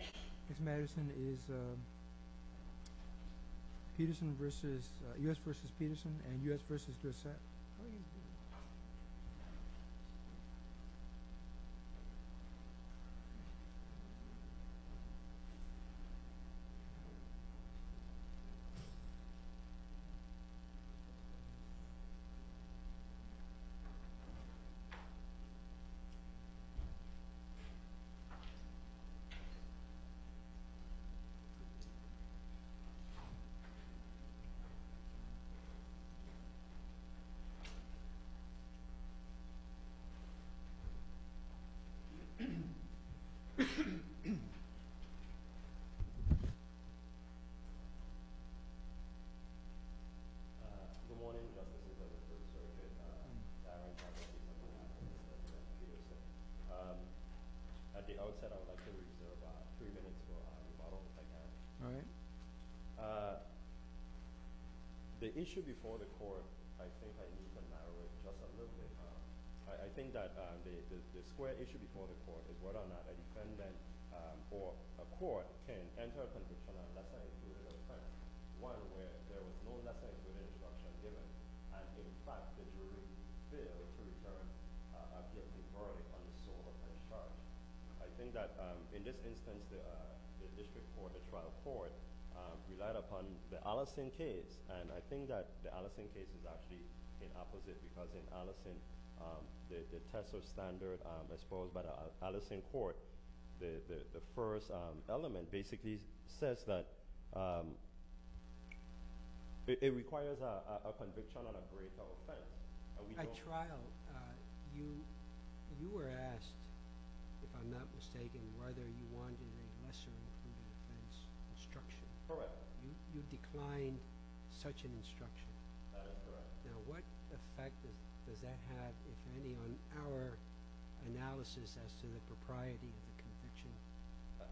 I guess Madison is Peterson v. U.S. v. Peterson and U.S. v. Dorsett Good morning. At the outset, I would like to reserve three minutes for rebuttal, if I can. All right. The issue before the court, I think I need to narrow it just a little bit. I think that the square issue before the court is whether or not a defendant or a court can enter a condition of letter of introduction, one where there was no letter of introduction given and, in fact, the jury failed to return a guilty verdict on the sole offense charged. I think that, in this instance, the district court, the trial court, relied upon the Allison case, and I think that the Allison case is actually in opposite because in Allison, the first element basically says that it requires a conviction on a great offense. At trial, you were asked, if I'm not mistaken, whether you wanted a lesser impunity offense instruction. Correct. You declined such an instruction. That is correct. Now, what effect does that have, if any, on our analysis as to the propriety of the conviction?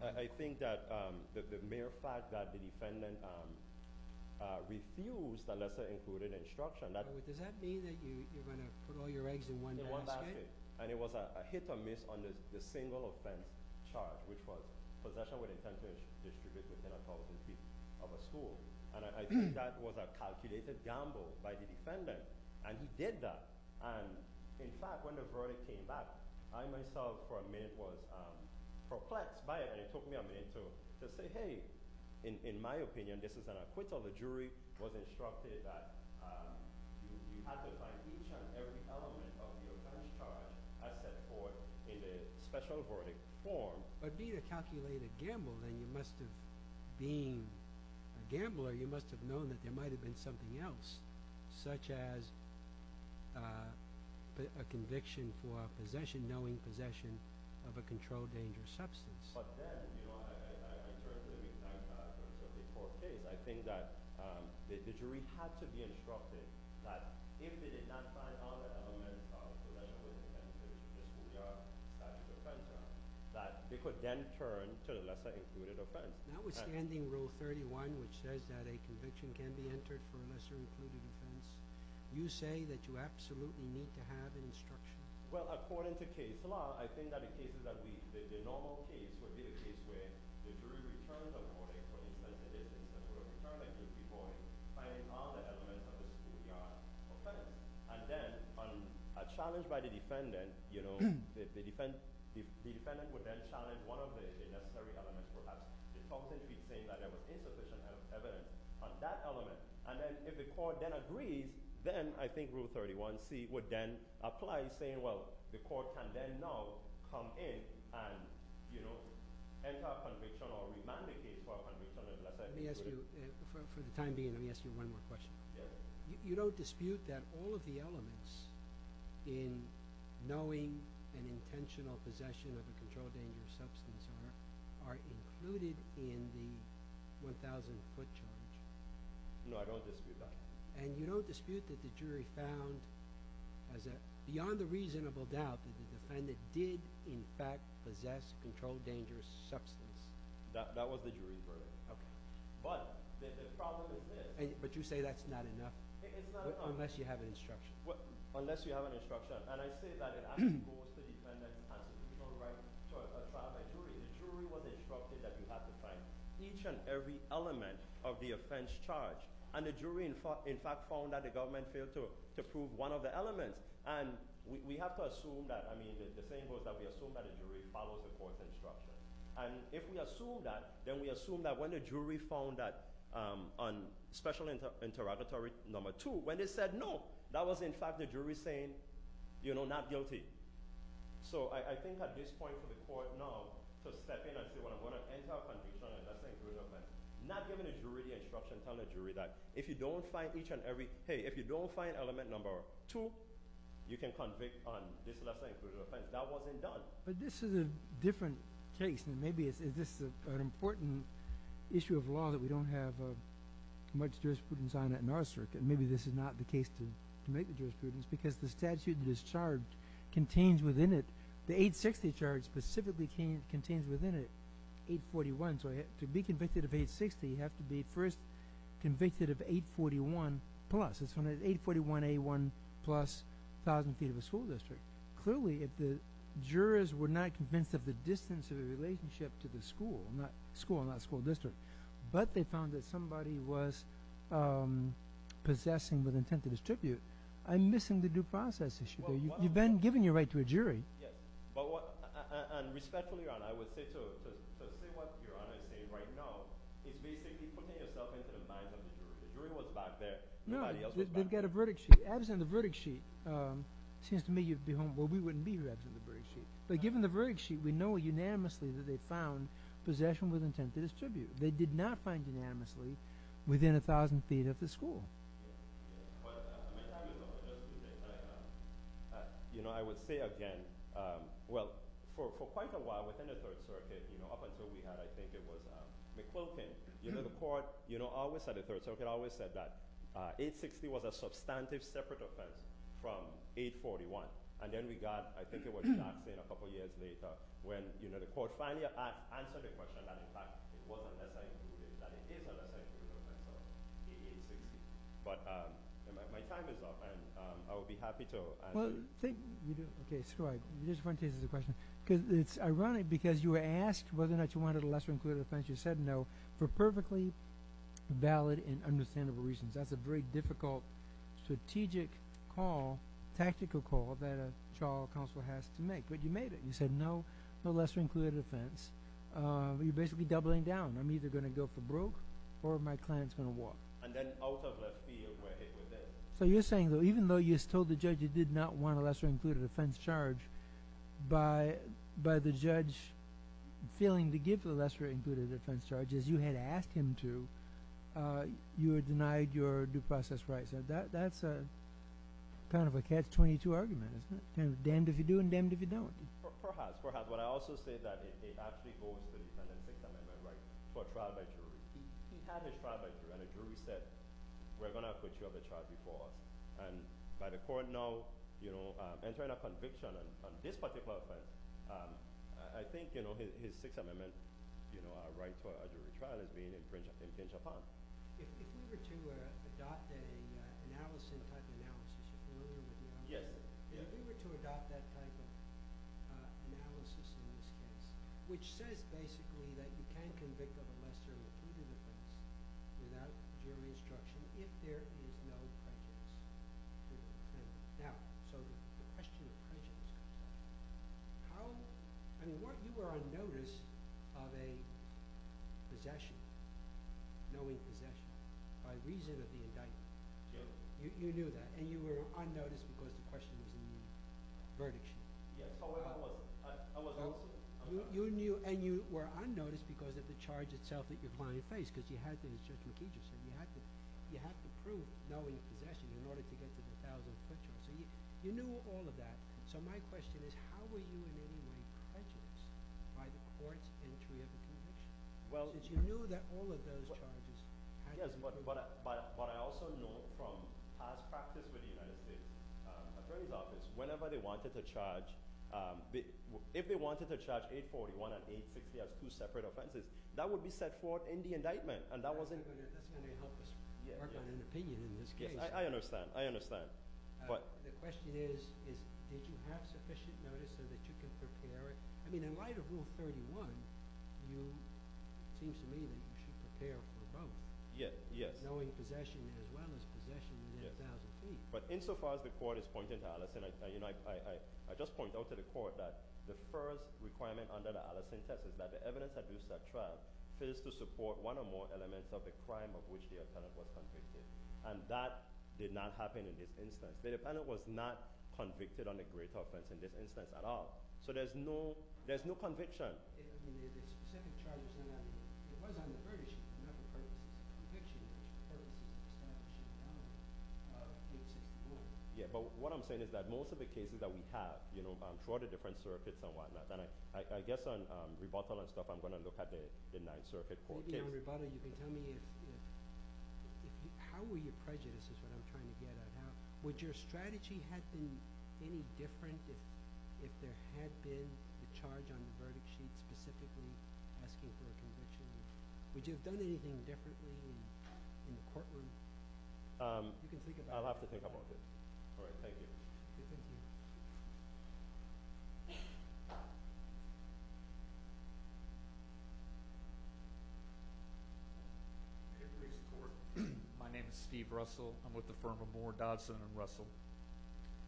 I think that the mere fact that the defendant refused a lesser impunity instruction, that Does that mean that you're going to put all your eggs in one basket? In one basket. And it was a hit or miss on the single offense charge, which was possession with intent to distribute within a thousand feet of a school. And I think that was a calculated gamble by the defendant. And he did that. And, in fact, when the verdict came back, I myself, for a minute, was perplexed by it. And it took me a minute to say, hey, in my opinion, this is an acquittal. The jury was instructed that you have to find each and every element of the offense charge as set forth in the special verdict form. But, B, to calculate a gamble, then you must have, being a gambler, you must have known that there might have been something else, such as a conviction for a possession, knowing possession of a controlled dangerous substance. But then, you know, I currently recant that from the court case. I think that the jury had to be instructed that if they did not find all the elements of possession with intent in the schoolyard, that the offense charge, that they could then turn to a lesser-included offense. Now, withstanding Rule 31, which says that a conviction can be entered for a lesser-included offense, you say that you absolutely need to have an instruction? Well, according to case law, I think that the cases that we, the normal case would be the case where the jury returns a verdict for the intent it is, in terms of a determined guilty point, finding all the elements of the schoolyard offense. And then, on a challenge by the defendant, you know, if the defendant would then challenge one of the necessary elements, perhaps the substance would be saying that there was insufficient evidence on that element. And then, if the court then agrees, then I think Rule 31c would then apply, saying, well, the court can then now come in and, you know, enter a conviction or remand a case for a conviction of a lesser-included offense. Let me ask you, for the time being, let me ask you one more question. Yes. You don't dispute that all of the elements in knowing an intentional possession of a control-dangerous substance are included in the 1,000-foot charge? No, I don't dispute that. And you don't dispute that the jury found, beyond a reasonable doubt, that the defendant did, in fact, possess a control-dangerous substance? That was the jury's verdict. Okay. But the problem is this. But you say that's not enough? It's not enough. Unless you have an instruction. Unless you have an instruction. And I say that it actually goes to the defendant's constitutional right to assign a jury. The jury was instructed that you have to find each and every element of the offense charge. And the jury, in fact, found that the government failed to prove one of the elements. And we have to assume that, I mean, the thing was that we assumed that the jury followed the court's instruction. And if we assume that, then we assume that when the jury found that on Special Interrogatory No. 2, when they said no, that was, in fact, the jury saying, you know, not guilty. So, I think at this point for the court now to step in and say, well, I'm going to enter a conviction on a less-than-inclusive offense, not giving the jury the instruction, telling the jury that if you don't find each and every—hey, if you don't find element No. 2, you can convict on this less-than-inclusive offense. That wasn't done. But this is a different case. And maybe this is an important issue of law that we don't have much jurisprudence on in our circuit. Maybe this is not the case to make the jurisprudence because the statute that is charged contains within it—the 860 charge specifically contains within it 841. So, to be convicted of 860, you have to be first convicted of 841 plus. It's 841A1 plus 1,000 feet of a school district. Clearly, if the jurors were not convinced of the distance of the relationship to the school—school, not school district—but they found that somebody was possessing with intent to distribute, I'm missing the due process issue. You've been given your right to a jury. Yes. But what—and respectfully, Your Honor, I would say—so, say what Your Honor is saying right now is basically putting yourself into the minds of the jury. The jury was back there. Nobody else was back there. No. They've got a verdict sheet. Absent the verdict sheet, it seems to me you'd be home—well, we wouldn't be here absent the verdict sheet. But given the verdict sheet, we know unanimously that they found possession with intent to distribute. They did not find unanimously within 1,000 feet of the school. Yes. Yes. But, I mean, you know, I would say again, well, for quite a while within the Third Circuit, you know, up until we had, I think it was, McClokin, you know, the court, you know, always said that 860 was a substantive separate offense from 841. And then we got—I think it was Jackson a couple years later when, you know, the court finally answered the question that, in fact, it wasn't lesser-included, that it is a lesser-included offense of 860. But my time is up, and I would be happy to answer— Well, thank you. Okay. So go ahead. You just wanted to answer the question. Because it's ironic because you were asked whether or not you wanted a lesser-included offense. You said no for perfectly valid and understandable reasons. That's a very difficult strategic call, tactical call, that a trial counsel has to make. But you made it. You said no, no lesser-included offense. You're basically doubling down. I'm either going to go for broke or my client's going to walk. And then out of the field, we're hit with it. So you're saying, though, even though you told the judge you did not want a lesser-included offense charge, by the judge feeling the gift of a lesser-included offense charge, as you had asked him to, you were denied your due process rights. That's kind of a catch-22 argument, isn't it? Damned if you do and damned if you don't. Perhaps. Perhaps. But I also say that it actually goes to the defendant's external right for trial by jury. He had this trial by jury. And the jury said, we're going to put you on the charge before. And by the court, no. Entering a conviction on this particular offense, I think his Sixth Amendment right for a jury trial is being infringed upon. If we were to adopt an analysis type analysis, if we were to adopt that type of analysis in this case, which says, basically, that you can convict of a lesser-included offense without jury instruction, if there is no prejudice to the defendant. Now, so the question of prejudice, how – I mean, weren't – you were on notice of a possession, knowing possession, by reason of the indictment. Sure. You knew that. And you were on notice because the question was in the verdict sheet. Yes. Oh, wait. I wasn't. You knew and you were on notice because of the charge itself that you're going to face, because you had to, as Judge McKee just said, you had to prove knowing possession in order to get to the 1,000-foot charge. So you knew all of that. So my question is, how were you in any way prejudiced by the court's entry of a conviction? Because you knew that all of those charges had to be – Yes, but I also know from past practice with the United States Attorney's Office, whenever they wanted to charge – if they wanted to charge 841 and 860 as two separate offenses, that would be set forth in the indictment. That's going to help us work on an opinion in this case. I understand. I understand. The question is, did you have sufficient notice so that you could prepare it? I mean, in light of Rule 31, it seems to me that you should prepare for both. Yes, yes. Knowing possession as well as possession within 1,000 feet. But insofar as the court is pointing to Allison, I just point out to the court that the first requirement under the Allison test is that the evidence that produced that trial is to support one or more elements of the crime of which the defendant was convicted. And that did not happen in this instance. The defendant was not convicted on a great offense in this instance at all. So there's no conviction. I understand. I mean, if the specific charge was not on the – if it was on the verdict, it's not the conviction. It's the purpose of establishing the element of 861. Yeah, but what I'm saying is that most of the cases that we have throughout the different circuits and whatnot – and I guess on rebuttal and stuff, I'm going to look at the Ninth Circuit court case. On rebuttal, you can tell me if – how were your prejudices what I'm trying to get at. Now, would your strategy have been any different if there had been a charge on the verdict sheet specifically asking for a conviction? Would you have done anything differently in the courtroom? You can think about that. I'll have to think about that. All right, thank you. Thank you. My name is Steve Russell. I'm with the firm of Moore, Dodson & Russell.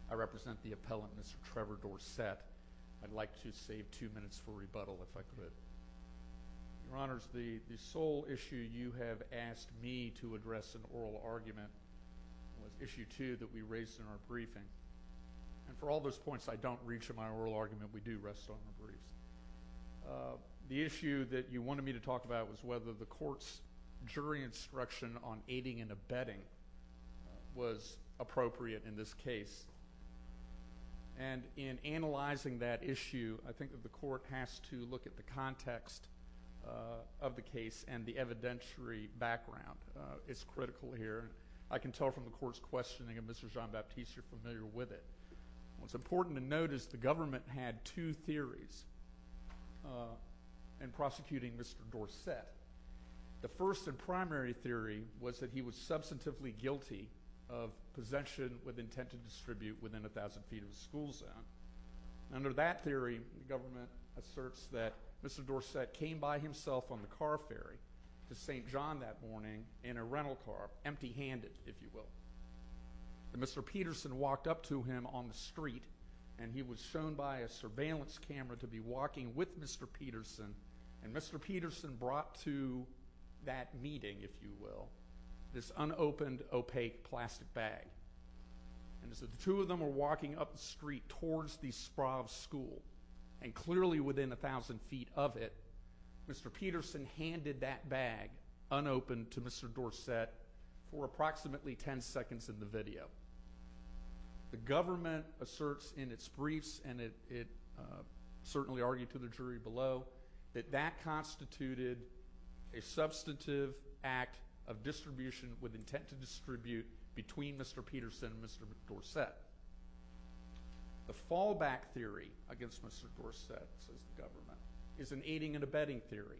I represent the appellant, Mr. Trevor Dorsett. I'd like to save two minutes for rebuttal if I could. Your Honors, the sole issue you have asked me to address in oral argument was issue two that we raised in our briefing. And for all those points I don't reach in my oral argument, we do rest on the brief. The issue that you wanted me to talk about was whether the court's jury instruction on aiding and abetting was appropriate in this case. And in analyzing that issue, I think that the court has to look at the context of the case and the evidentiary background. It's critical here. I can tell from the court's questioning, and Mr. Jean-Baptiste, you're familiar with it. What's important to note is the government had two theories in prosecuting Mr. Dorsett. The first and primary theory was that he was substantively guilty of possession with intent to distribute within 1,000 feet of a school zone. Under that theory, the government asserts that Mr. Dorsett came by himself on the car ferry to St. John that morning in a rental car, empty-handed, if you will. And Mr. Peterson walked up to him on the street, and he was shown by a surveillance camera to be walking with Mr. Peterson. And Mr. Peterson brought to that meeting, if you will, this unopened, opaque plastic bag. And as the two of them were walking up the street towards the Sprave School, and clearly within 1,000 feet of it, Mr. Peterson handed that bag, unopened, to Mr. Dorsett for approximately 10 seconds of the video. The government asserts in its briefs, and it certainly argued to the jury below, that that constituted a substantive act of distribution with intent to distribute between Mr. Peterson and Mr. Dorsett. The fallback theory against Mr. Dorsett, says the government, is an aiding and abetting theory.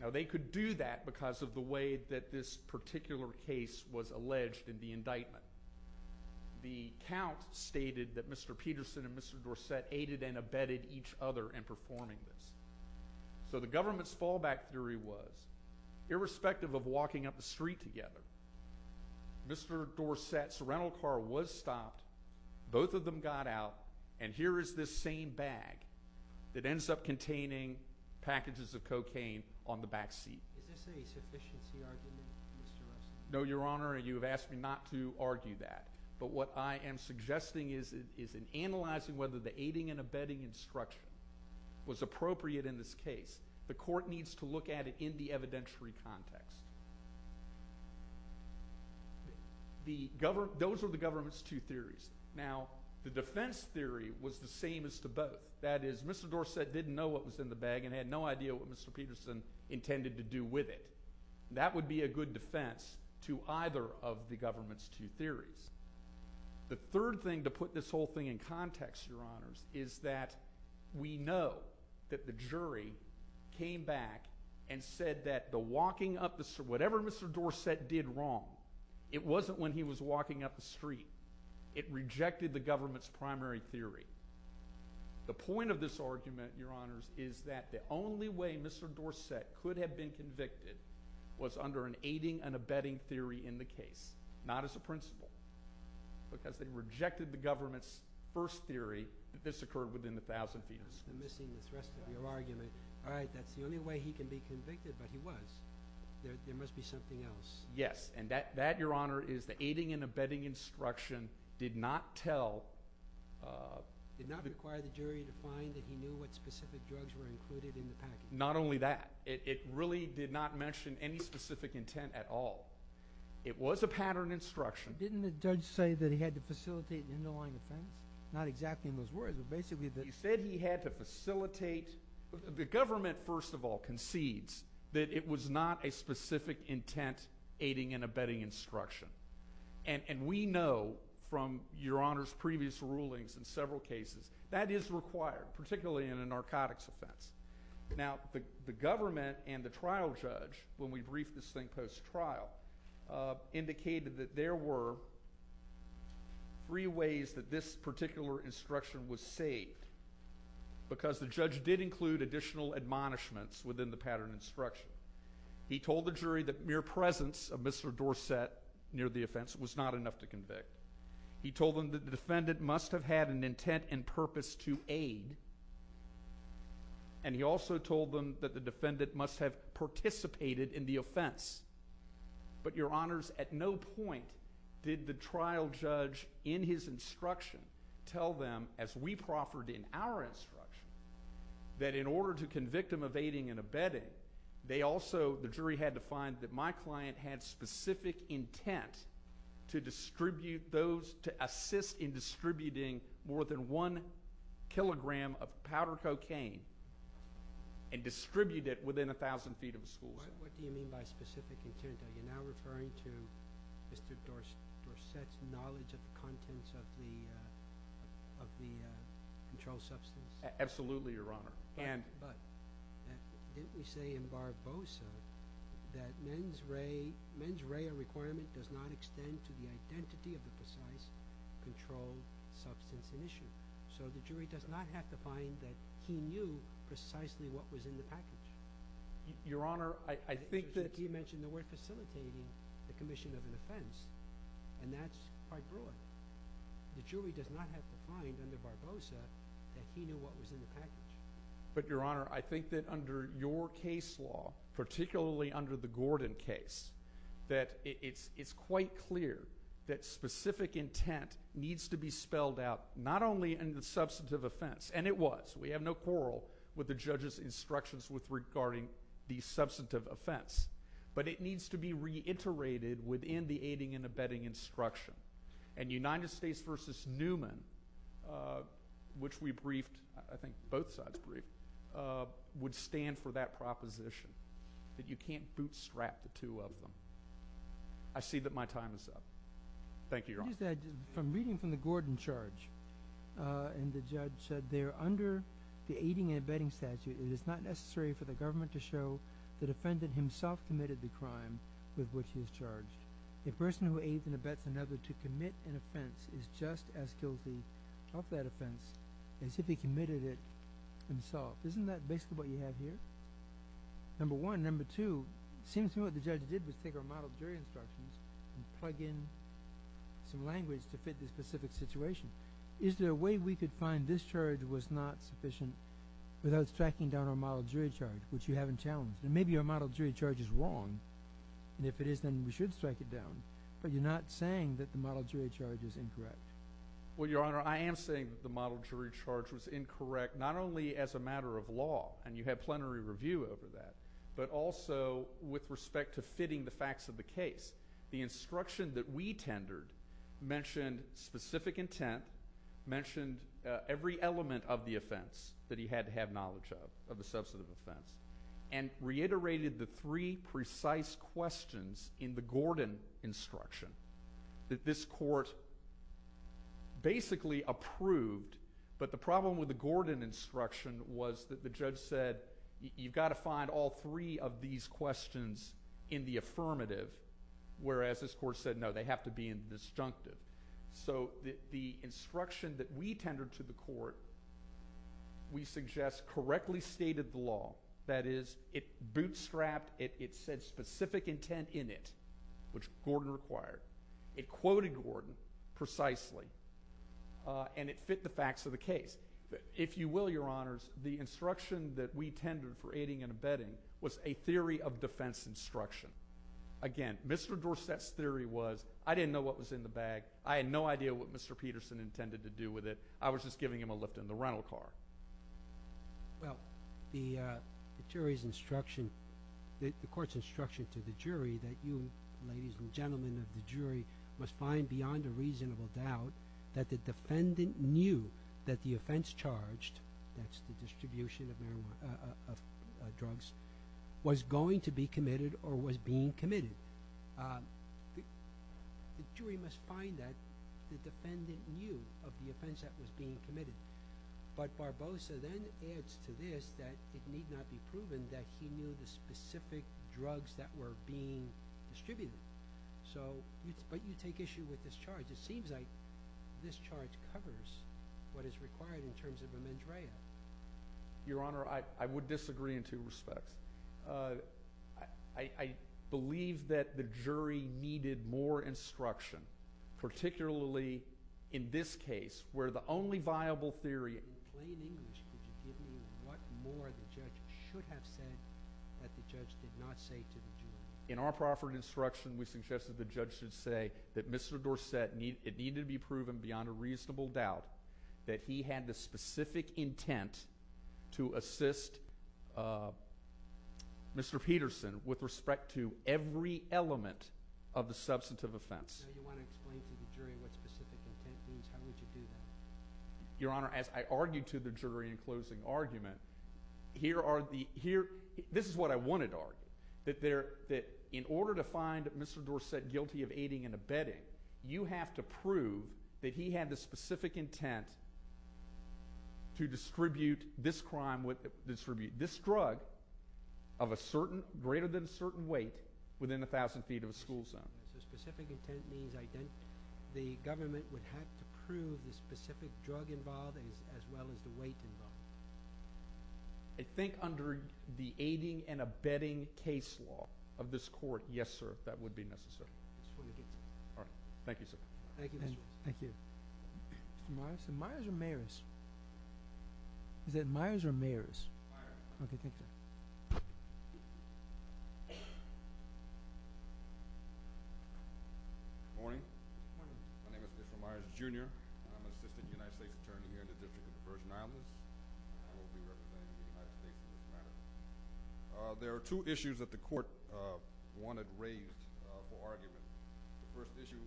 Now, they could do that because of the way that this particular case was alleged in the indictment. The count stated that Mr. Peterson and Mr. Dorsett aided and abetted each other in performing this. So the government's fallback theory was, irrespective of walking up the street together, Mr. Dorsett's rental car was stopped, both of them got out, and here is this same bag that ends up containing packages of cocaine on the back seat. No, Your Honor, you have asked me not to argue that. But what I am suggesting is in analyzing whether the aiding and abetting instruction was appropriate in this case, the court needs to look at it in the evidentiary context. Those are the government's two theories. Now, the defense theory was the same as to both. That is, Mr. Dorsett didn't know what was in the bag and had no idea what Mr. Peterson intended to do with it. That would be a good defense to either of the government's two theories. The third thing, to put this whole thing in context, Your Honors, is that we know that the jury came back and said that whatever Mr. Dorsett did wrong, it wasn't when he was walking up the street. It rejected the government's primary theory. The point of this argument, Your Honors, is that the only way Mr. Dorsett could have been convicted was under an aiding and abetting theory in the case, not as a principle, because they rejected the government's first theory that this occurred within the 1,000 feet of the street. I'm missing the thrust of your argument. All right, that's the only way he can be convicted, but he was. There must be something else. Yes, and that, Your Honor, is the aiding and abetting instruction did not tell— Did not require the jury to find that he knew what specific drugs were included in the package. Not only that. It really did not mention any specific intent at all. It was a pattern instruction. Didn't the judge say that he had to facilitate the underlying offense? Not exactly in those words, but basically that— He said he had to facilitate. The government, first of all, concedes that it was not a specific intent aiding and abetting instruction, and we know from Your Honors' previous rulings in several cases that is required, particularly in a narcotics offense. Now, the government and the trial judge, when we briefed this thing post-trial, indicated that there were three ways that this particular instruction was saved, because the judge did include additional admonishments within the pattern instruction. He told the jury that mere presence of Mr. Dorsett near the offense was not enough to convict. He told them that the defendant must have had an intent and purpose to aid, and he also told them that the defendant must have participated in the offense. But, Your Honors, at no point did the trial judge in his instruction tell them, as we proffered in our instruction, that in order to convict him of aiding and abetting, the jury had to find that my client had specific intent to assist in distributing more than one kilogram of powder cocaine and distribute it within 1,000 feet of the school. What do you mean by specific intent? Are you now referring to Mr. Dorsett's knowledge of the contents of the controlled substance? Absolutely, Your Honor. But didn't we say in Barbosa that mens rea requirement does not extend to the identity of the precise controlled substance in issue? So the jury does not have to find that he knew precisely what was in the package. Your Honor, I think that— You mentioned the word facilitating the commission of an offense, and that's quite broad. The jury does not have to find under Barbosa that he knew what was in the package. But, Your Honor, I think that under your case law, particularly under the Gordon case, that it's quite clear that specific intent needs to be spelled out not only in the substantive offense— and it was, we have no quarrel with the judge's instructions regarding the substantive offense— but it needs to be reiterated within the aiding and abetting instruction. And United States v. Newman, which we briefed, I think both sides briefed, would stand for that proposition, that you can't bootstrap the two of them. I see that my time is up. Thank you, Your Honor. From reading from the Gordon charge, and the judge said there, under the aiding and abetting statute, it is not necessary for the government to show the defendant himself committed the crime with which he is charged. A person who aids and abets another to commit an offense is just as guilty of that offense as if he committed it himself. Isn't that basically what you have here? Number one. Number two, it seems to me what the judge did was take our model jury instructions and plug in some language to fit this specific situation. Is there a way we could find this charge was not sufficient without striking down our model jury charge, which you haven't challenged? Maybe our model jury charge is wrong, and if it is, then we should strike it down. But you're not saying that the model jury charge is incorrect. Well, Your Honor, I am saying that the model jury charge was incorrect, not only as a matter of law, and you have plenary review over that, but also with respect to fitting the facts of the case. The instruction that we tendered mentioned specific intent, mentioned every element of the offense that he had to have knowledge of, of the substantive offense, and reiterated the three precise questions in the Gordon instruction that this court basically approved. But the problem with the Gordon instruction was that the judge said, you've got to find all three of these questions in the affirmative, whereas this court said, no, they have to be in the disjunctive. So the instruction that we tendered to the court, we suggest, correctly stated the law. That is, it bootstrapped, it said specific intent in it, which Gordon required. It quoted Gordon precisely, and it fit the facts of the case. If you will, Your Honors, the instruction that we tendered for aiding and abetting was a theory of defense instruction. Again, Mr. Dorsett's theory was, I didn't know what was in the bag. I had no idea what Mr. Peterson intended to do with it. I was just giving him a lift in the rental car. Well, the jury's instruction, the court's instruction to the jury that you, ladies and gentlemen of the jury, must find beyond a reasonable doubt that the defendant knew that the offense charged, that's the distribution of drugs, was going to be committed or was being committed. The jury must find that the defendant knew of the offense that was being committed. But Barbosa then adds to this that it need not be proven that he knew the specific drugs that were being distributed. But you take issue with this charge. It just seems like this charge covers what is required in terms of a mandrella. Your Honor, I would disagree in two respects. I believe that the jury needed more instruction, particularly in this case where the only viable theory— In plain English, could you give me what more the judge should have said that the judge did not say to the jury? In our proper instruction, we suggested the judge should say that Mr. Dorsett, it needed to be proven beyond a reasonable doubt that he had the specific intent to assist Mr. Peterson with respect to every element of the substantive offense. Now you want to explain to the jury what specific intent means. How would you do that? Your Honor, as I argued to the jury in closing argument, here are the— In order to find Mr. Dorsett guilty of aiding and abetting, you have to prove that he had the specific intent to distribute this crime—this drug of a certain—greater than a certain weight within 1,000 feet of a school zone. So specific intent means the government would have to prove the specific drug involved as well as the weight involved. I think under the aiding and abetting case law of this court, yes, sir, that would be necessary. All right. Thank you, sir. Thank you, Mr. Wilson. Thank you. Mr. Myers? Is it Myers or Mayers? Is it Myers or Mayers? Myers. Okay. Thank you, sir. Good morning. Good morning. My name is Mr. Myers, Jr. I'm an assistant United States attorney here in the District of the Virgin Islands. I will be representing the United States in this matter. There are two issues that the court wanted raised for argument. The first issue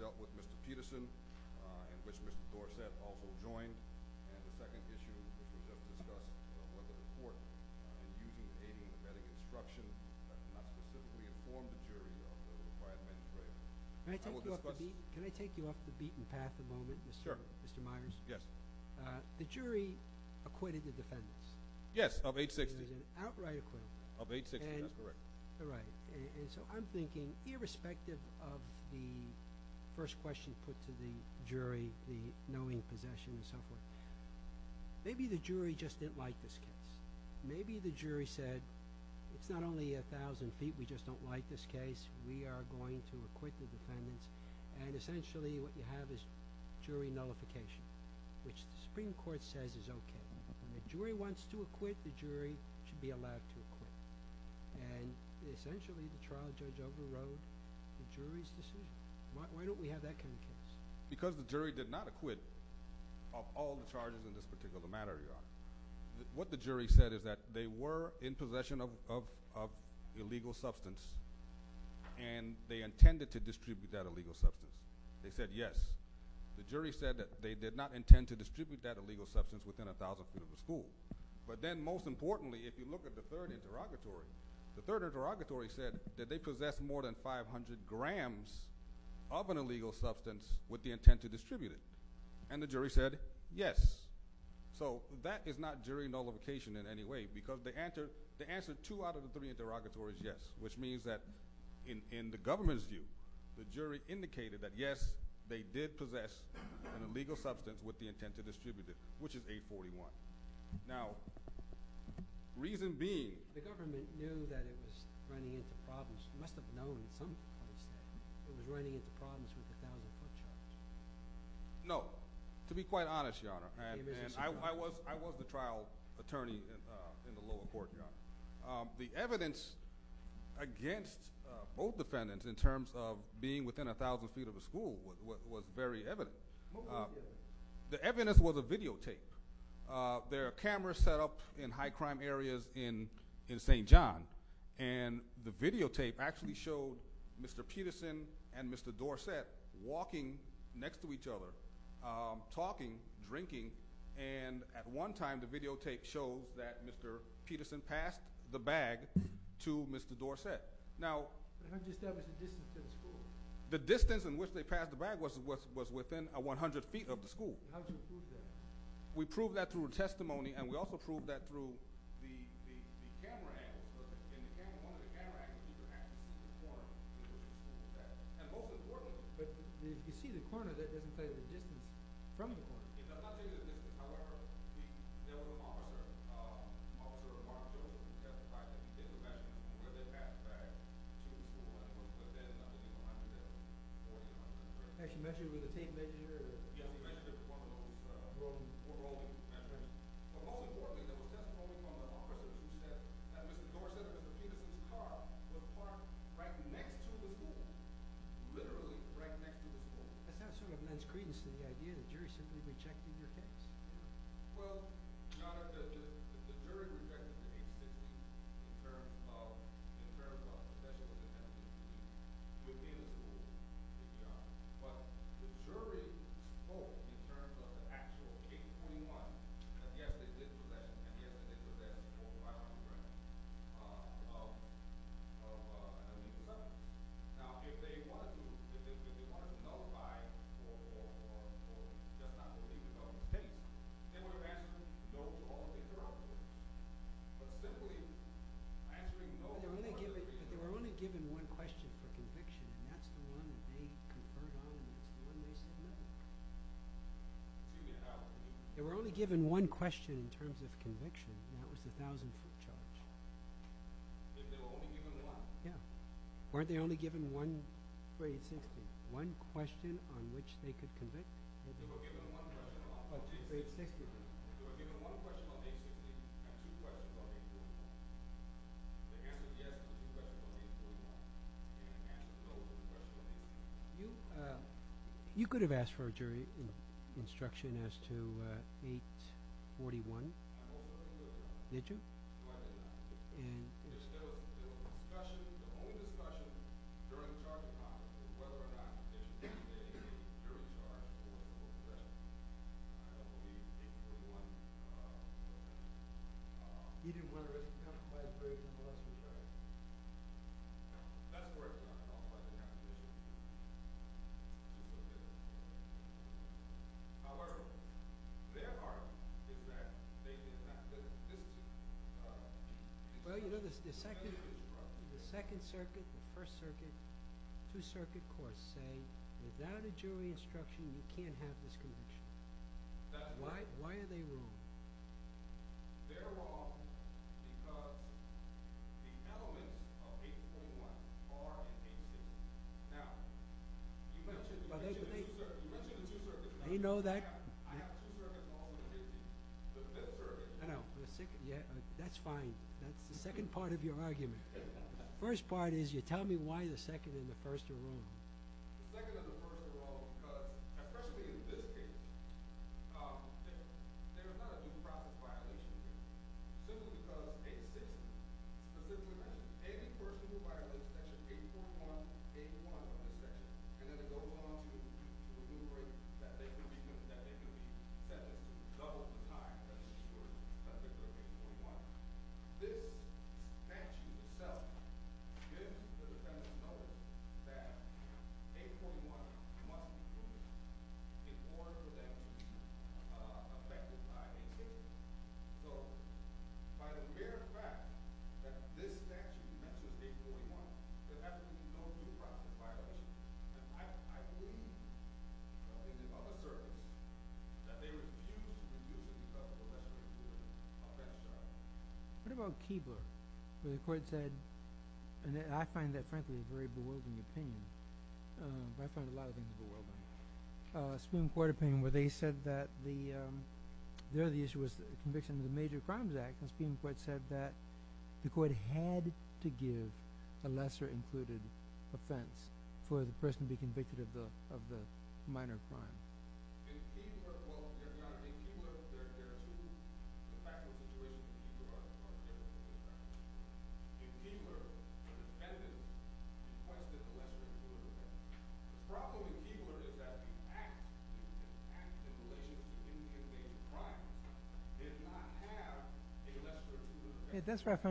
dealt with Mr. Peterson, in which Mr. Dorsett also joined, and the second issue, which was just discussed, was whether the court, in using the aiding and abetting instruction, had not specifically informed the jury of the required menstruation. Can I take you up the beaten path a moment, Mr. Myers? Yes. The jury acquitted the defendants. Yes, of age 60. It was an outright acquittal. Of age 60, that's correct. All right. And so I'm thinking, irrespective of the first question put to the jury, the knowing possession and so forth, maybe the jury just didn't like this case. Maybe the jury said, it's not only 1,000 feet, we just don't like this case. We are going to acquit the defendants. And essentially what you have is jury nullification, which the Supreme Court says is okay. When the jury wants to acquit, the jury should be allowed to acquit. And essentially the trial judge overrode the jury's decision. Why don't we have that kind of case? Because the jury did not acquit of all the charges in this particular matter, Your Honor. What the jury said is that they were in possession of illegal substance, and they intended to distribute that illegal substance. They said yes. The jury said that they did not intend to distribute that illegal substance within 1,000 feet of the school. But then, most importantly, if you look at the third interrogatory, the third interrogatory said that they possessed more than 500 grams of an illegal substance with the intent to distribute it. And the jury said yes. So that is not jury nullification in any way, because the answer two out of the three interrogatories is yes, which means that in the government's view, the jury indicated that, yes, they did possess an illegal substance with the intent to distribute it, which is 841. Now, reason being— The government knew that it was running into problems. It must have known at some point that it was running into problems with the 1,000-foot charge. No. To be quite honest, Your Honor, and I was the trial attorney in the lower court, Your Honor. The evidence against both defendants in terms of being within 1,000 feet of the school was very evident. What was the evidence? The evidence was a videotape. There are cameras set up in high-crime areas in St. John, and the videotape actually showed Mr. Peterson and Mr. Dorsett walking next to each other, talking, drinking, and at one time the videotape showed that Mr. Peterson passed the bag to Mr. Dorsett. Now— But how did you establish the distance to the school? The distance in which they passed the bag was within 100 feet of the school. How did you prove that? We proved that through a testimony, and we also proved that through the camera angle. In the camera—one of the camera angles, you can actually see the corner where the school was at. And most importantly— But you see the corner. That doesn't tell you the distance from the corner. It does not tell you the distance. However, there was a monitor, a monitor or a monitor that was used to testify to the intervention, where they passed the bag to the school, but there's nothing behind it. Actually, you measured it with a tape measure? Yeah, we measured it with one of those overall measures. But most importantly, there was testimony from the officer who said that Mr. Dorsett and Mr. Peterson's car were parked right next to the school, literally right next to the school. That's not sort of men's credence to the idea that the jury simply rejected your case. Well, Your Honor, the jury rejected the case in terms of—in terms of—especially when it had to do with within the school, but the jury told, in terms of the actual Case 21, that yes, they did present, and yes, they did present, a photograph of Mr. Dorsett. Now, if they wanted to—if they wanted to nullify or just not believe the evidence, they would have answered no to all the interrogations. But simply answering no to all the interrogations— But they were only given one question for conviction, and that's the one that they conferred on, and that's the one they submitted. They were only given one question in terms of conviction, and that was the 1,000-foot charge. They were only given one? Yeah. Weren't they only given one Grade 60? One question on which they could convict? They were given one question on Grade 60. They were given one question on Grade 60 and two questions on Grade 60. The answer is yes to the question on 841, and the answer is no to the question on 841. You could have asked for a jury instruction as to 841. I hope I did not. Did you? No, I did not. And— There were discussions—there were only discussions during the charging process as to whether or not they should take the jury charge for those questions. I don't believe 841— He didn't want— —counseled by the jury for those questions, right? That's where it comes from. I don't know why they have to do that. However, their argument is that they did not get a jury instruction. Well, you know, the second circuit, the first circuit, two-circuit courts say, without a jury instruction, you can't have this conviction. That's right. Why are they wrong? They're wrong because the elements of 841 are in 851. Now, you mentioned the two circuits. They know that. I have two circuits all in 851. The fifth circuit. I know. That's fine. That's the second part of your argument. The first part is you tell me why the second and the first are wrong. The second and the first are wrong because, especially in this case, there is not a due process violation here. This is because 860 specifically mentions any person who violates Section 841, 801 of the section and then it goes on to deliberate that they can be sentenced to double the time that they were sentenced to 841. Now, this statute itself gives the defendant notice that 841 must be committed in order for that to be affected by a case. So, by the very fact that this statute mentions 841, there has to be no due process violation. I believe, in the public service, that they were considered to be guilty because of a lesser-included offense charge. What about Kieber? The court said, and I find that, frankly, a very bewildering opinion. I find a lot of things bewildering. Supreme Court opinion where they said that there the issue was the conviction of the Major Crimes Act. Supreme Court said that the court had to give a lesser-included offense for the person to be convicted of the minor crime. In Kieber, there are two factual situations. In Kieber, the defendant requested a lesser-included offense. The problem with Kieber is that the act in relation to the conviction of a major crime did not have a lesser-included offense. That's correct. It wasn't listed in the act. However, the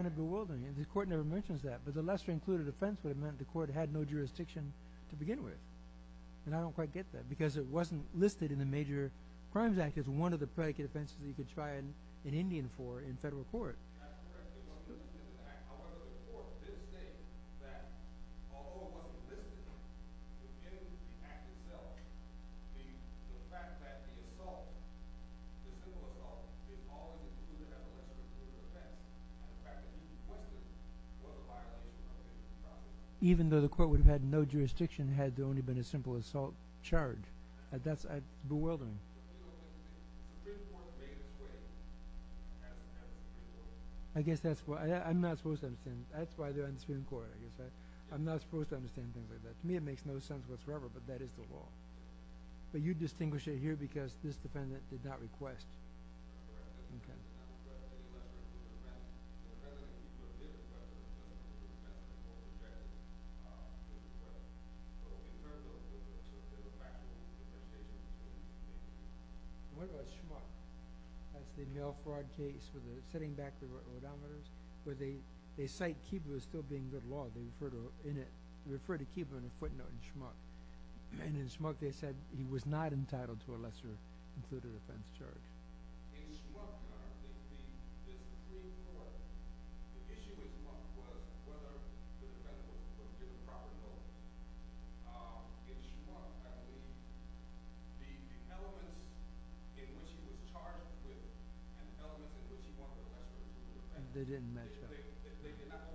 court did state that, although it wasn't listed, in the act itself, the fact that the assault, the simple assault, didn't always include a lesser-included offense. In fact, it was requested for the violation of a major crime. Even though the court would have had no jurisdiction, had there only been a simple assault charge. That's bewildering. Supreme Court made a choice. I guess that's why. I'm not supposed to understand. That's why they're on the Supreme Court, I guess. I'm not supposed to understand things like that. To me, it makes no sense whatsoever, but that is the law. But you distinguish it here because this defendant did not request. Okay. What about Schmuck? That's the mail fraud case with the setting back the odometers, where they cite Kieber as still being good law. They refer to Kieber in a footnote in Schmuck. And in Schmuck, they said he was not entitled to a lesser-included offense charge. They didn't measure. They didn't measure. The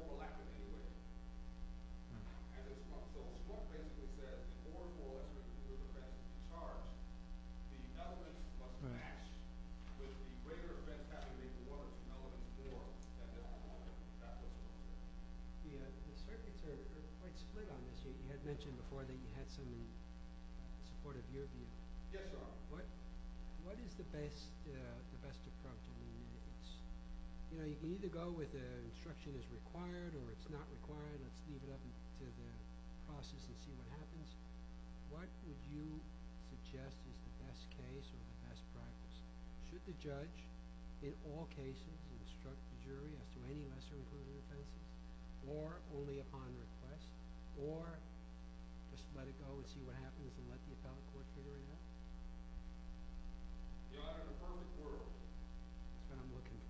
circuits are quite split on this. You had mentioned before that you had some support of your view. Yes, Your Honor. What is the best approach? You know, you can either go with the instruction is required or it's not required. Let's leave it up to the process and see what happens. What would you suggest is the best case or the best practice? Should the judge, in all cases, instruct the jury as to any lesser-included offenses, or only upon request, or just let it go and see what happens and let the appellate court figure it out? That's what I'm looking for. The appellate court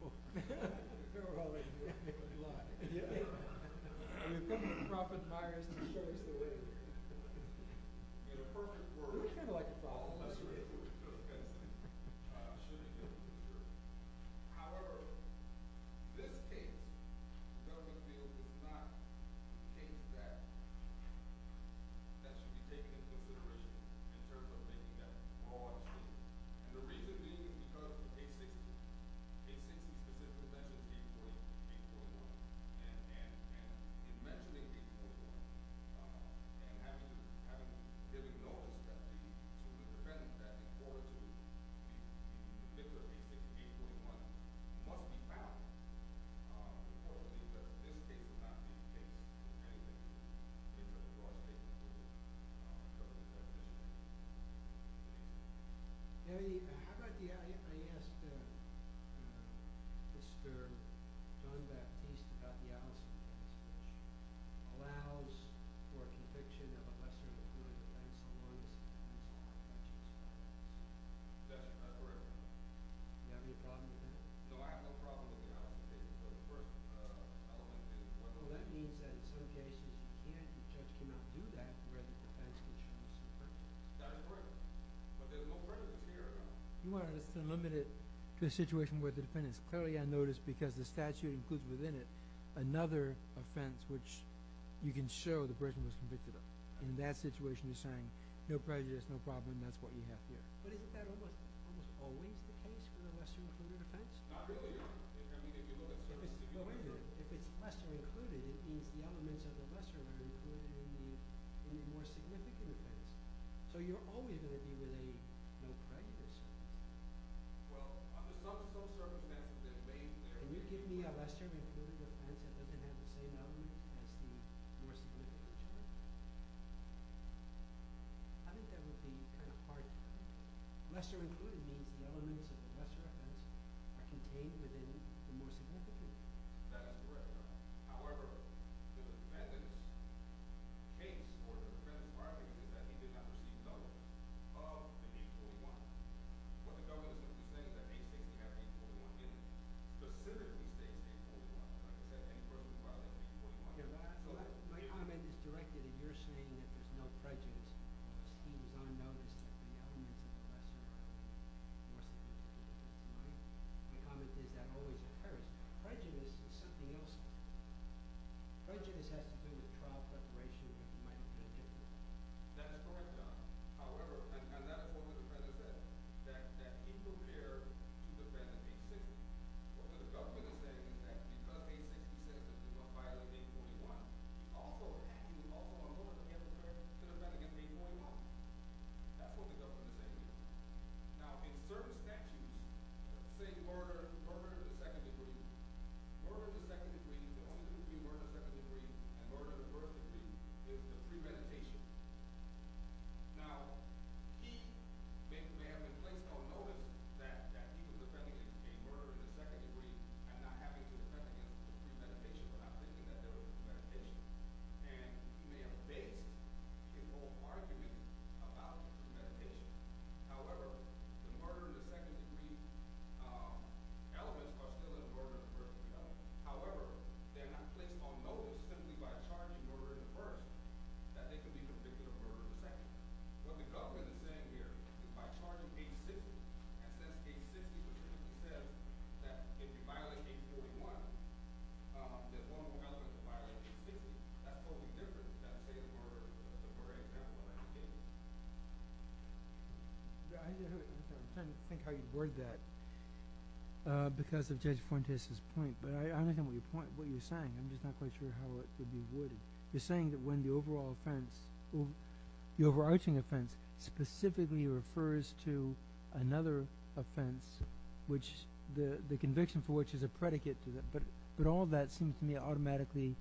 admires and assures the witness. In a perfect world, a lesser-included offense should be given to the jury. However, in this case, the government feels it is not a case that should be taken into consideration in terms of making that broad case. The reason being is because K-16, K-40, K-41, and in mentioning K-41, and having him acknowledge that to defend that, in order to consider K-40, K-41, must be found before the defense. In this case, it's not being taken into consideration. How about the – I asked Mr. John Beck, at least, about the allocations. It allows for a conviction of a lesser-included offense as long as it's in the law. That's correct. Do you have any problem with that? No, I have no problem with the allocations. Of course, I don't want to change the question. Well, that means that in some cases, the judge cannot do that where the defense can choose. That is correct. But there's no prejudice here. You want us to limit it to a situation where the defendant is clearly unnoticed because the statute includes within it another offense which you can show the person was convicted of. In that situation, you're saying no prejudice, no problem, and that's what you have here. But isn't that almost always the case for a lesser-included offense? Not really. I mean, if you look at – No, wait a minute. If it's lesser-included, it means the elements of the lesser are included in the more significant offense. So you're always going to be with a no prejudice. Well, under some circumstances, there may be – Can you give me a lesser-included offense that doesn't have the same element as the more significant offense? I think that would be kind of hard to do. Lesser-included means the elements of the lesser offense are contained within the more significant. That is correct. However, the defendant's case or the defendant's argument is that he did not receive notice of the 841. What the government is going to say is that they say we have 841. It is specifically saying 841, not that any person is violating 841. My comment is directly that you're saying that there's no prejudice. He was unnoticed in the elements of the lesser offense. My comment is that always occurs. Prejudice is something else. Prejudice has to do with trial preparation that might have been different. That's correct, John. However, and that's what the President said, that he prepared to defend 860. What the government is going to say is that because 860 said that he was going to file an 841, he's also attacking, he's also unlawful to defend against 841. That's what the government is going to say. Now, in certain statutes, say murder to the second degree, murder to the second degree, the only thing that would be murder to the second degree and murder to the first degree is the premeditation. Now, he may have been placed on notice that he was defending a murder to the second degree and not having to defend against the premeditation without thinking that there was a premeditation. And he may have based his whole argument about the premeditation. However, the murder to the second degree elements are still a murder to the first degree element. However, they're not placed on notice simply by charging murder to the first degree that they could be convicted of murder to the second degree. What the government is saying here is by charging 860 and saying 860, which means he said that if you violate 841, that one or the other could violate 860. That's totally different than, say, a murder to the first degree. I'm trying to think how you'd word that because of Judge Fuentes' point, but I don't understand what you're saying. I'm just not quite sure how it would be worded. You're saying that when the overall offense, the overarching offense, specifically refers to another offense, which the conviction for which is a predicate to that, but all that seems to me automatically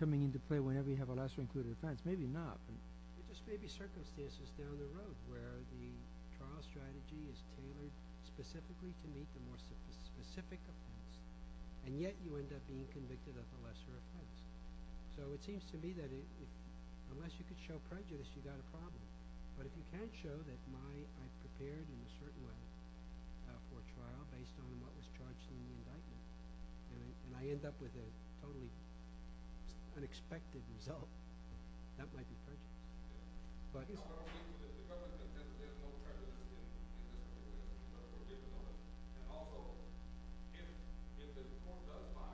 coming into play whenever you have a lasso-included offense. Maybe not. There just may be circumstances down the road where the trial strategy is tailored specifically to meet the more specific offense, and yet you end up being convicted of a lesser offense. So it seems to me that unless you can show prejudice, you've got a problem. But if you can't show that I prepared in a certain way for a trial based on what was charged in the indictment, and I end up with a totally unexpected result, that might be prejudice. Just because there's no prejudice in this case doesn't mean there's no prejudice on it. And also, if this court does find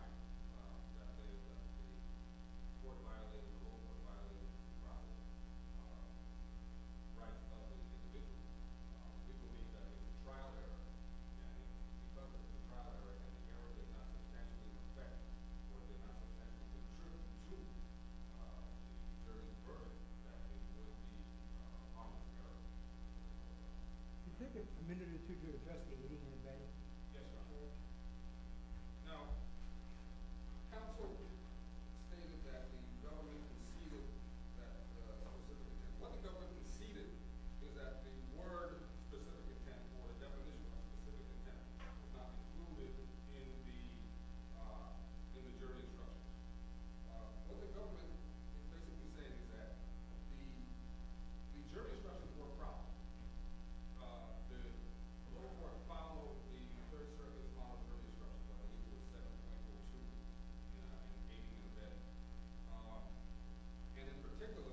that there's a court-violated rule, a court-violated trial, rightfully convicted, we believe that it's a trial error, and such trial error and error does not exactly respect what the indictment says in terms of the truth, in terms of the burden that it will be on the jury. You think it's a minute or two to the trustee that he didn't invent it? Yes, Your Honor. Now, counsel stated that the government conceded that specific intent. What the government conceded is that the word specific intent or the definition of specific intent was not included in the jury instruction. What the government basically said is that the jury instruction for a problem, the lower court followed the very, very long jury instruction, but I think it was 7.42 in case you didn't know that. And in particular,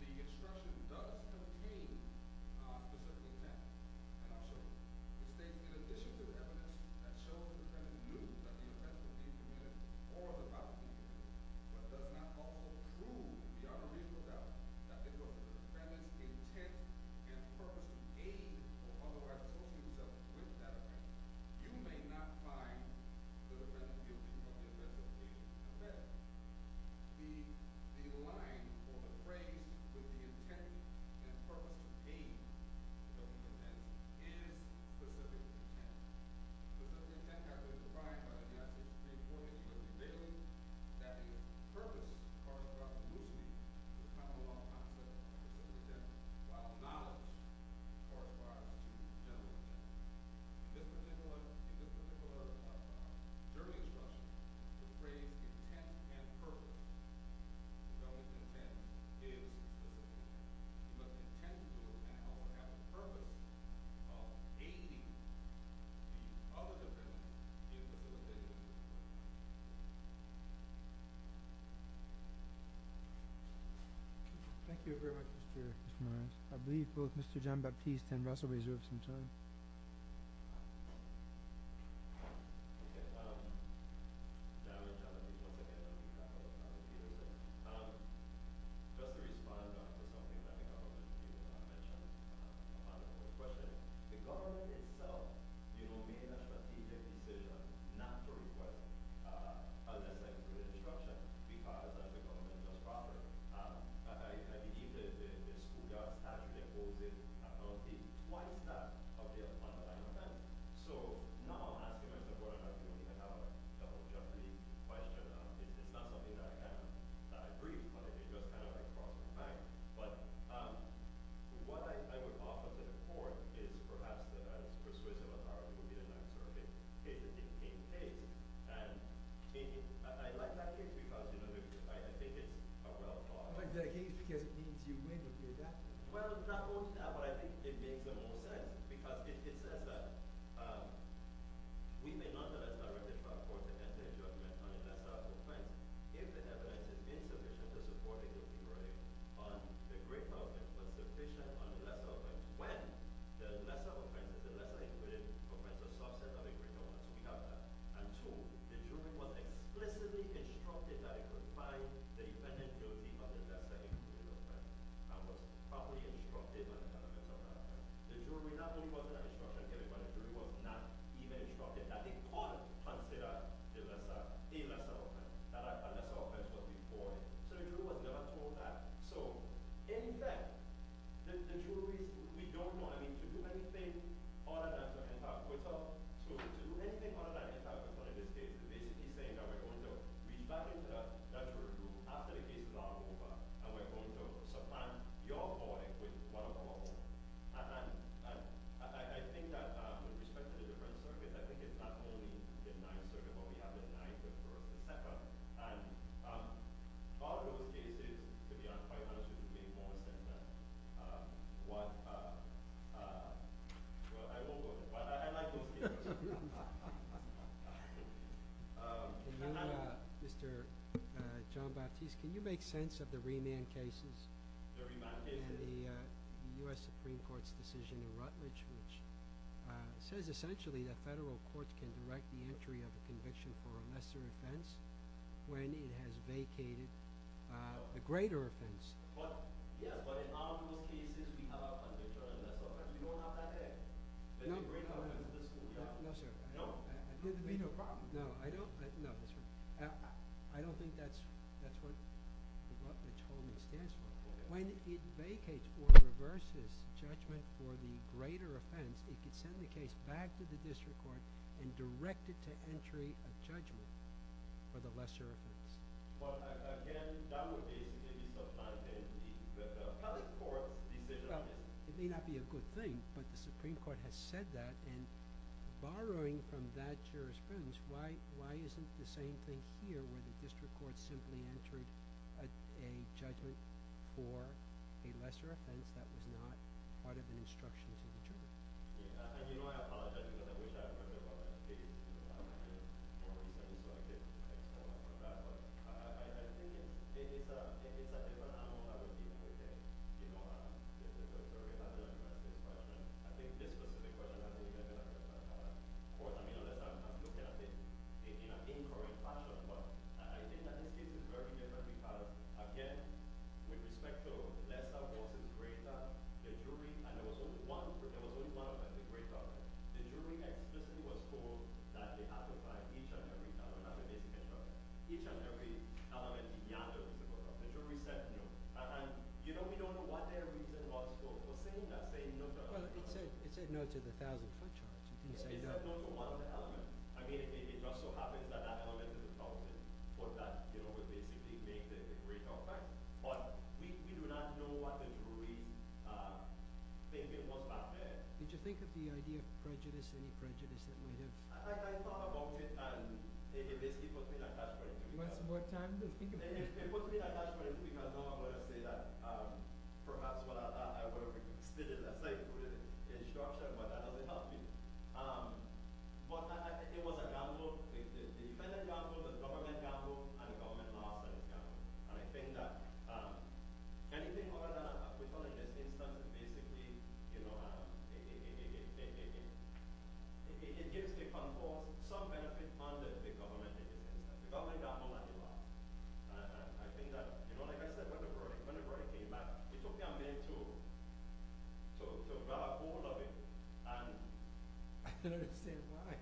the instruction does contain specific intent. And also, the statement, in addition to the evidence, that shows that the defendant knew that the offense was being committed or the violence was being committed, but does not also prove, Your Honor, even without the defendant's intent and purpose in engaging or otherwise approaching the judge with that offense, you may not find the prosecution of the offense is being assessed. The line or the phrase with the intent and purpose is aimed at specific intent and specific intent. Specific intent, however, is defined by the statute. It states, for instance, that the purpose corresponds loosely to the common law concept of specific intent, while knowledge corresponds to general intent. This is important, and this is what I would like to talk about. The jury instruction, the phrase intent and purpose, shows intent is specific intent, but the intent does not have the purpose of aiding the other defendant in the litigation. Thank you very much, Mr. Morris. I believe both Mr. Jean-Baptiste and Russell reserve some time. I would like to respond to something that the government did not mention in the question. The government itself made a strategic decision not to request a line of instruction, because the government does not offer it. I believe that the school judge had the oldest account, it's quite that of a line of instruction. So now, as the court has a double-judgely question on this, it's not something that I can agree upon. It's just kind of a problem of time. But what I would offer to the court is perhaps the persuasive authority within an excerpt in case it didn't take place. And I like that case, because I think it's a well-thought-out case. But did it take place because it means you win if you do that? Well, it's not only that, but I think it makes the most sense, because it says that we may not have a direct authority to enter a judgment on a lesser offense if the evidence is insufficient to support a guilty verdict on the greater offense, but sufficient on the lesser offense when the lesser offense is the lesser-included offense, the subset of a greater offense. We have that. And two, the jury was explicitly instructed that it could find the defendant guilty of the lesser-included offense and was properly instructed on the lesser-included offense. The jury not only was not instructed, but the jury was not even instructed that it could consider the lesser offense that a lesser offense was reported. So the jury was never told that. So, in effect, the jury, we don't want to do anything other than to enter a quittal. So to do anything other than enter a quittal in this case is basically saying that we're going to read back into that jury group after the case is all over, and we're going to supplant your verdict with one of our own. And I think that with respect to the different circuits, I think it's not only the Ninth Circuit, but we have the Ninth, the First, the Second. And all of those cases, to be quite honest with you, make more sense than what – well, I won't go there. But I like those cases. And now, Mr. John-Baptiste, can you make sense of the remand cases and the U.S. Supreme Court's decision in Rutledge which says essentially that federal courts can direct the entry of a conviction for a lesser offense when it has vacated a greater offense? But, yeah, but in all those cases, we have our convictions. That's all right. We don't have that there. No, no, no, no, sir. No? No, I don't – no, that's right. I don't think that's what the Rutledge holding stands for. When it vacates or reverses judgment for the greater offense, it can send the case back to the district court and direct it to entry of judgment for the lesser offense. Well, again, that would be in the substance of the appellate court's decision. Well, it may not be a good thing, but the Supreme Court has said that, and borrowing from that jurisprudence, why isn't the same thing here where the district court simply entered a judgment for a lesser offense that was not part of an instruction to the jury? And, you know, I apologize, because I wish I had heard about that case in the past. I didn't, so I apologize. But I think it's a – it's a different angle that we're dealing with here. You know, this is a very different kind of question. I think this specific question, I think, is a different kind of question. Of course, I mean, unless I'm looking at it in an incorrect fashion, but I think that this case is very different because, again, with respect to lesser, the jury – and there was only one offense, a great offense. The jury explicitly was told that they have to find each and every element. I don't have a date to catch up on that. Each and every element beyond the reasonable cause. The jury said no. And, you know, we don't know what their reason was for saying that, saying no to a lesser offense. Well, it said no to the 1,000-foot charge. It said no to one of the elements. I mean, it just so happens that that element is the problem, that, you know, was basically made the great offense. But we do not know what the jury think it was back there. Did you think of the idea of prejudice, any prejudice that might have – I thought about it, and it basically puts me in a catch-22. Do you want some more time to think about it? It puts me in a catch-22 because now I'm going to say that perhaps I would have split it and played it through the instruction, but that doesn't help me. But it was a gamble. It was a defendant gamble, a government gamble, and a government law-abiding gamble. And I think that anything other than a prejudice instance is basically, you know, it gives the control, some benefit under the government. The government gamble and the law. I think that, you know, like I said, when the verdict came back, it took me a minute to grab hold of it. And I don't understand why.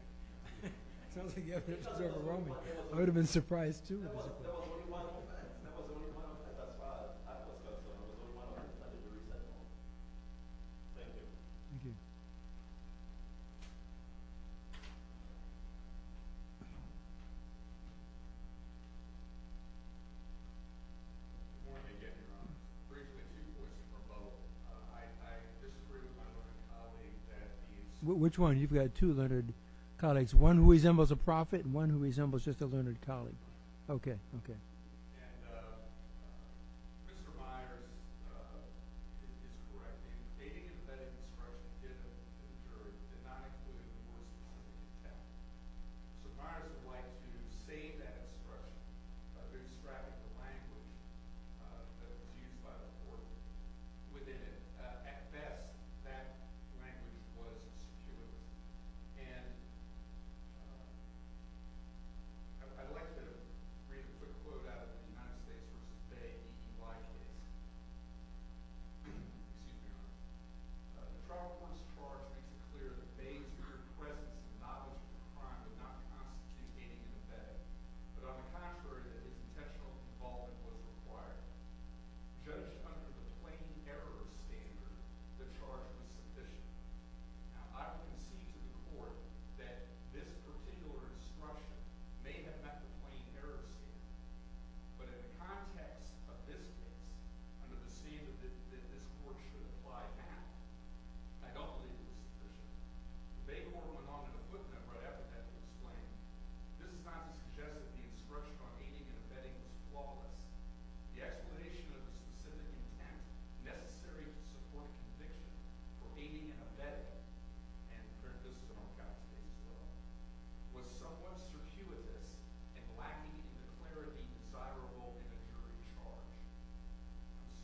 It sounds like you're overwhelming. I would have been surprised too. That was the only one. That was the only one. That's why. That was the only one. I didn't read that one. Thank you. Thank you. Good morning again, Your Honor. Briefly two questions from both. I disagree with my learned colleague that he is – Which one? You've got two learned colleagues, one who resembles a prophet and one who resembles just a learned colleague. Okay. I'd like to read a quick quote out of the United States verse of the Bay and why it is. Excuse me, Your Honor. The trial court's charge makes it clear that Bay's mere presence and knowledge of the crime did not constitute any debate, but on the contrary that its intentional involvement was required. Judged under the plain error standard, the charge was sufficient. Now, I would concede to the court that this particular instruction may have met the plain error standard, but in the context of this case, under the scene that this court should apply now, I don't believe it was sufficient. The Bay court went on to the footnote right after that to explain, this is not to suggest that the instruction on aiding and abetting was flawless. The explanation of the specific intent necessary to support conviction for aiding and abetting, and this is what I've got to say as well, was somewhat circuitous and lacking in the clarity desirable in a jury charge.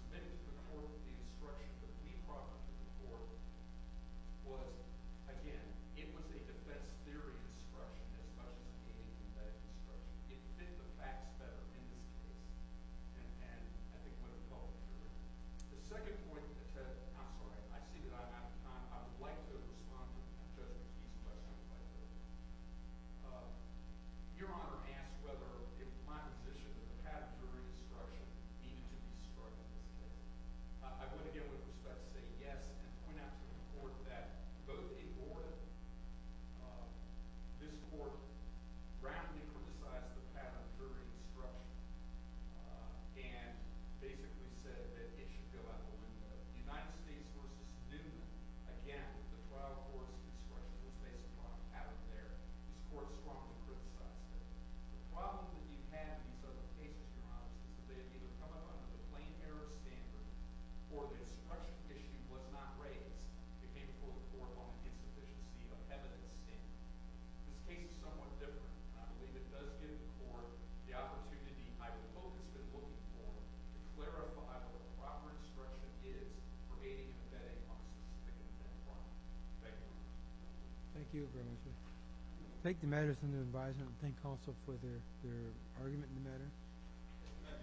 Submitted to the court the instruction, but the main problem for the court was, again, it was a defense theory instruction as much as an aiding and abetting instruction. It fit the facts better in this case. And I think what it calls a jury. The second point, I'm sorry. I see that I'm out of time. I would like to respond to the judge's question. I would like to hear it. Your Honor asked whether in my position the path of jury instruction needed to be described in this case. I would, again, with respect, say yes, and point out to the court that both a board, this court, radically criticized the path of jury instruction and basically said that it should go out the window. The United States versus Newman, again, with the trial course instruction that was based upon, have it there. This court strongly criticized it. The problem that you have in these other cases, Your Honor, is that they have either come up under the plain error standard or the instruction issue was not raised. It came before the court on the insufficiency of evidence standard. This case is somewhat different. I believe it does give the court the opportunity I would hope it's been looking for to clarify what the proper instruction is for aiding and abetting on a specific offense. Thank you. Thank you very much. Take the matters under advisement and thank counsel for their argument in the matter.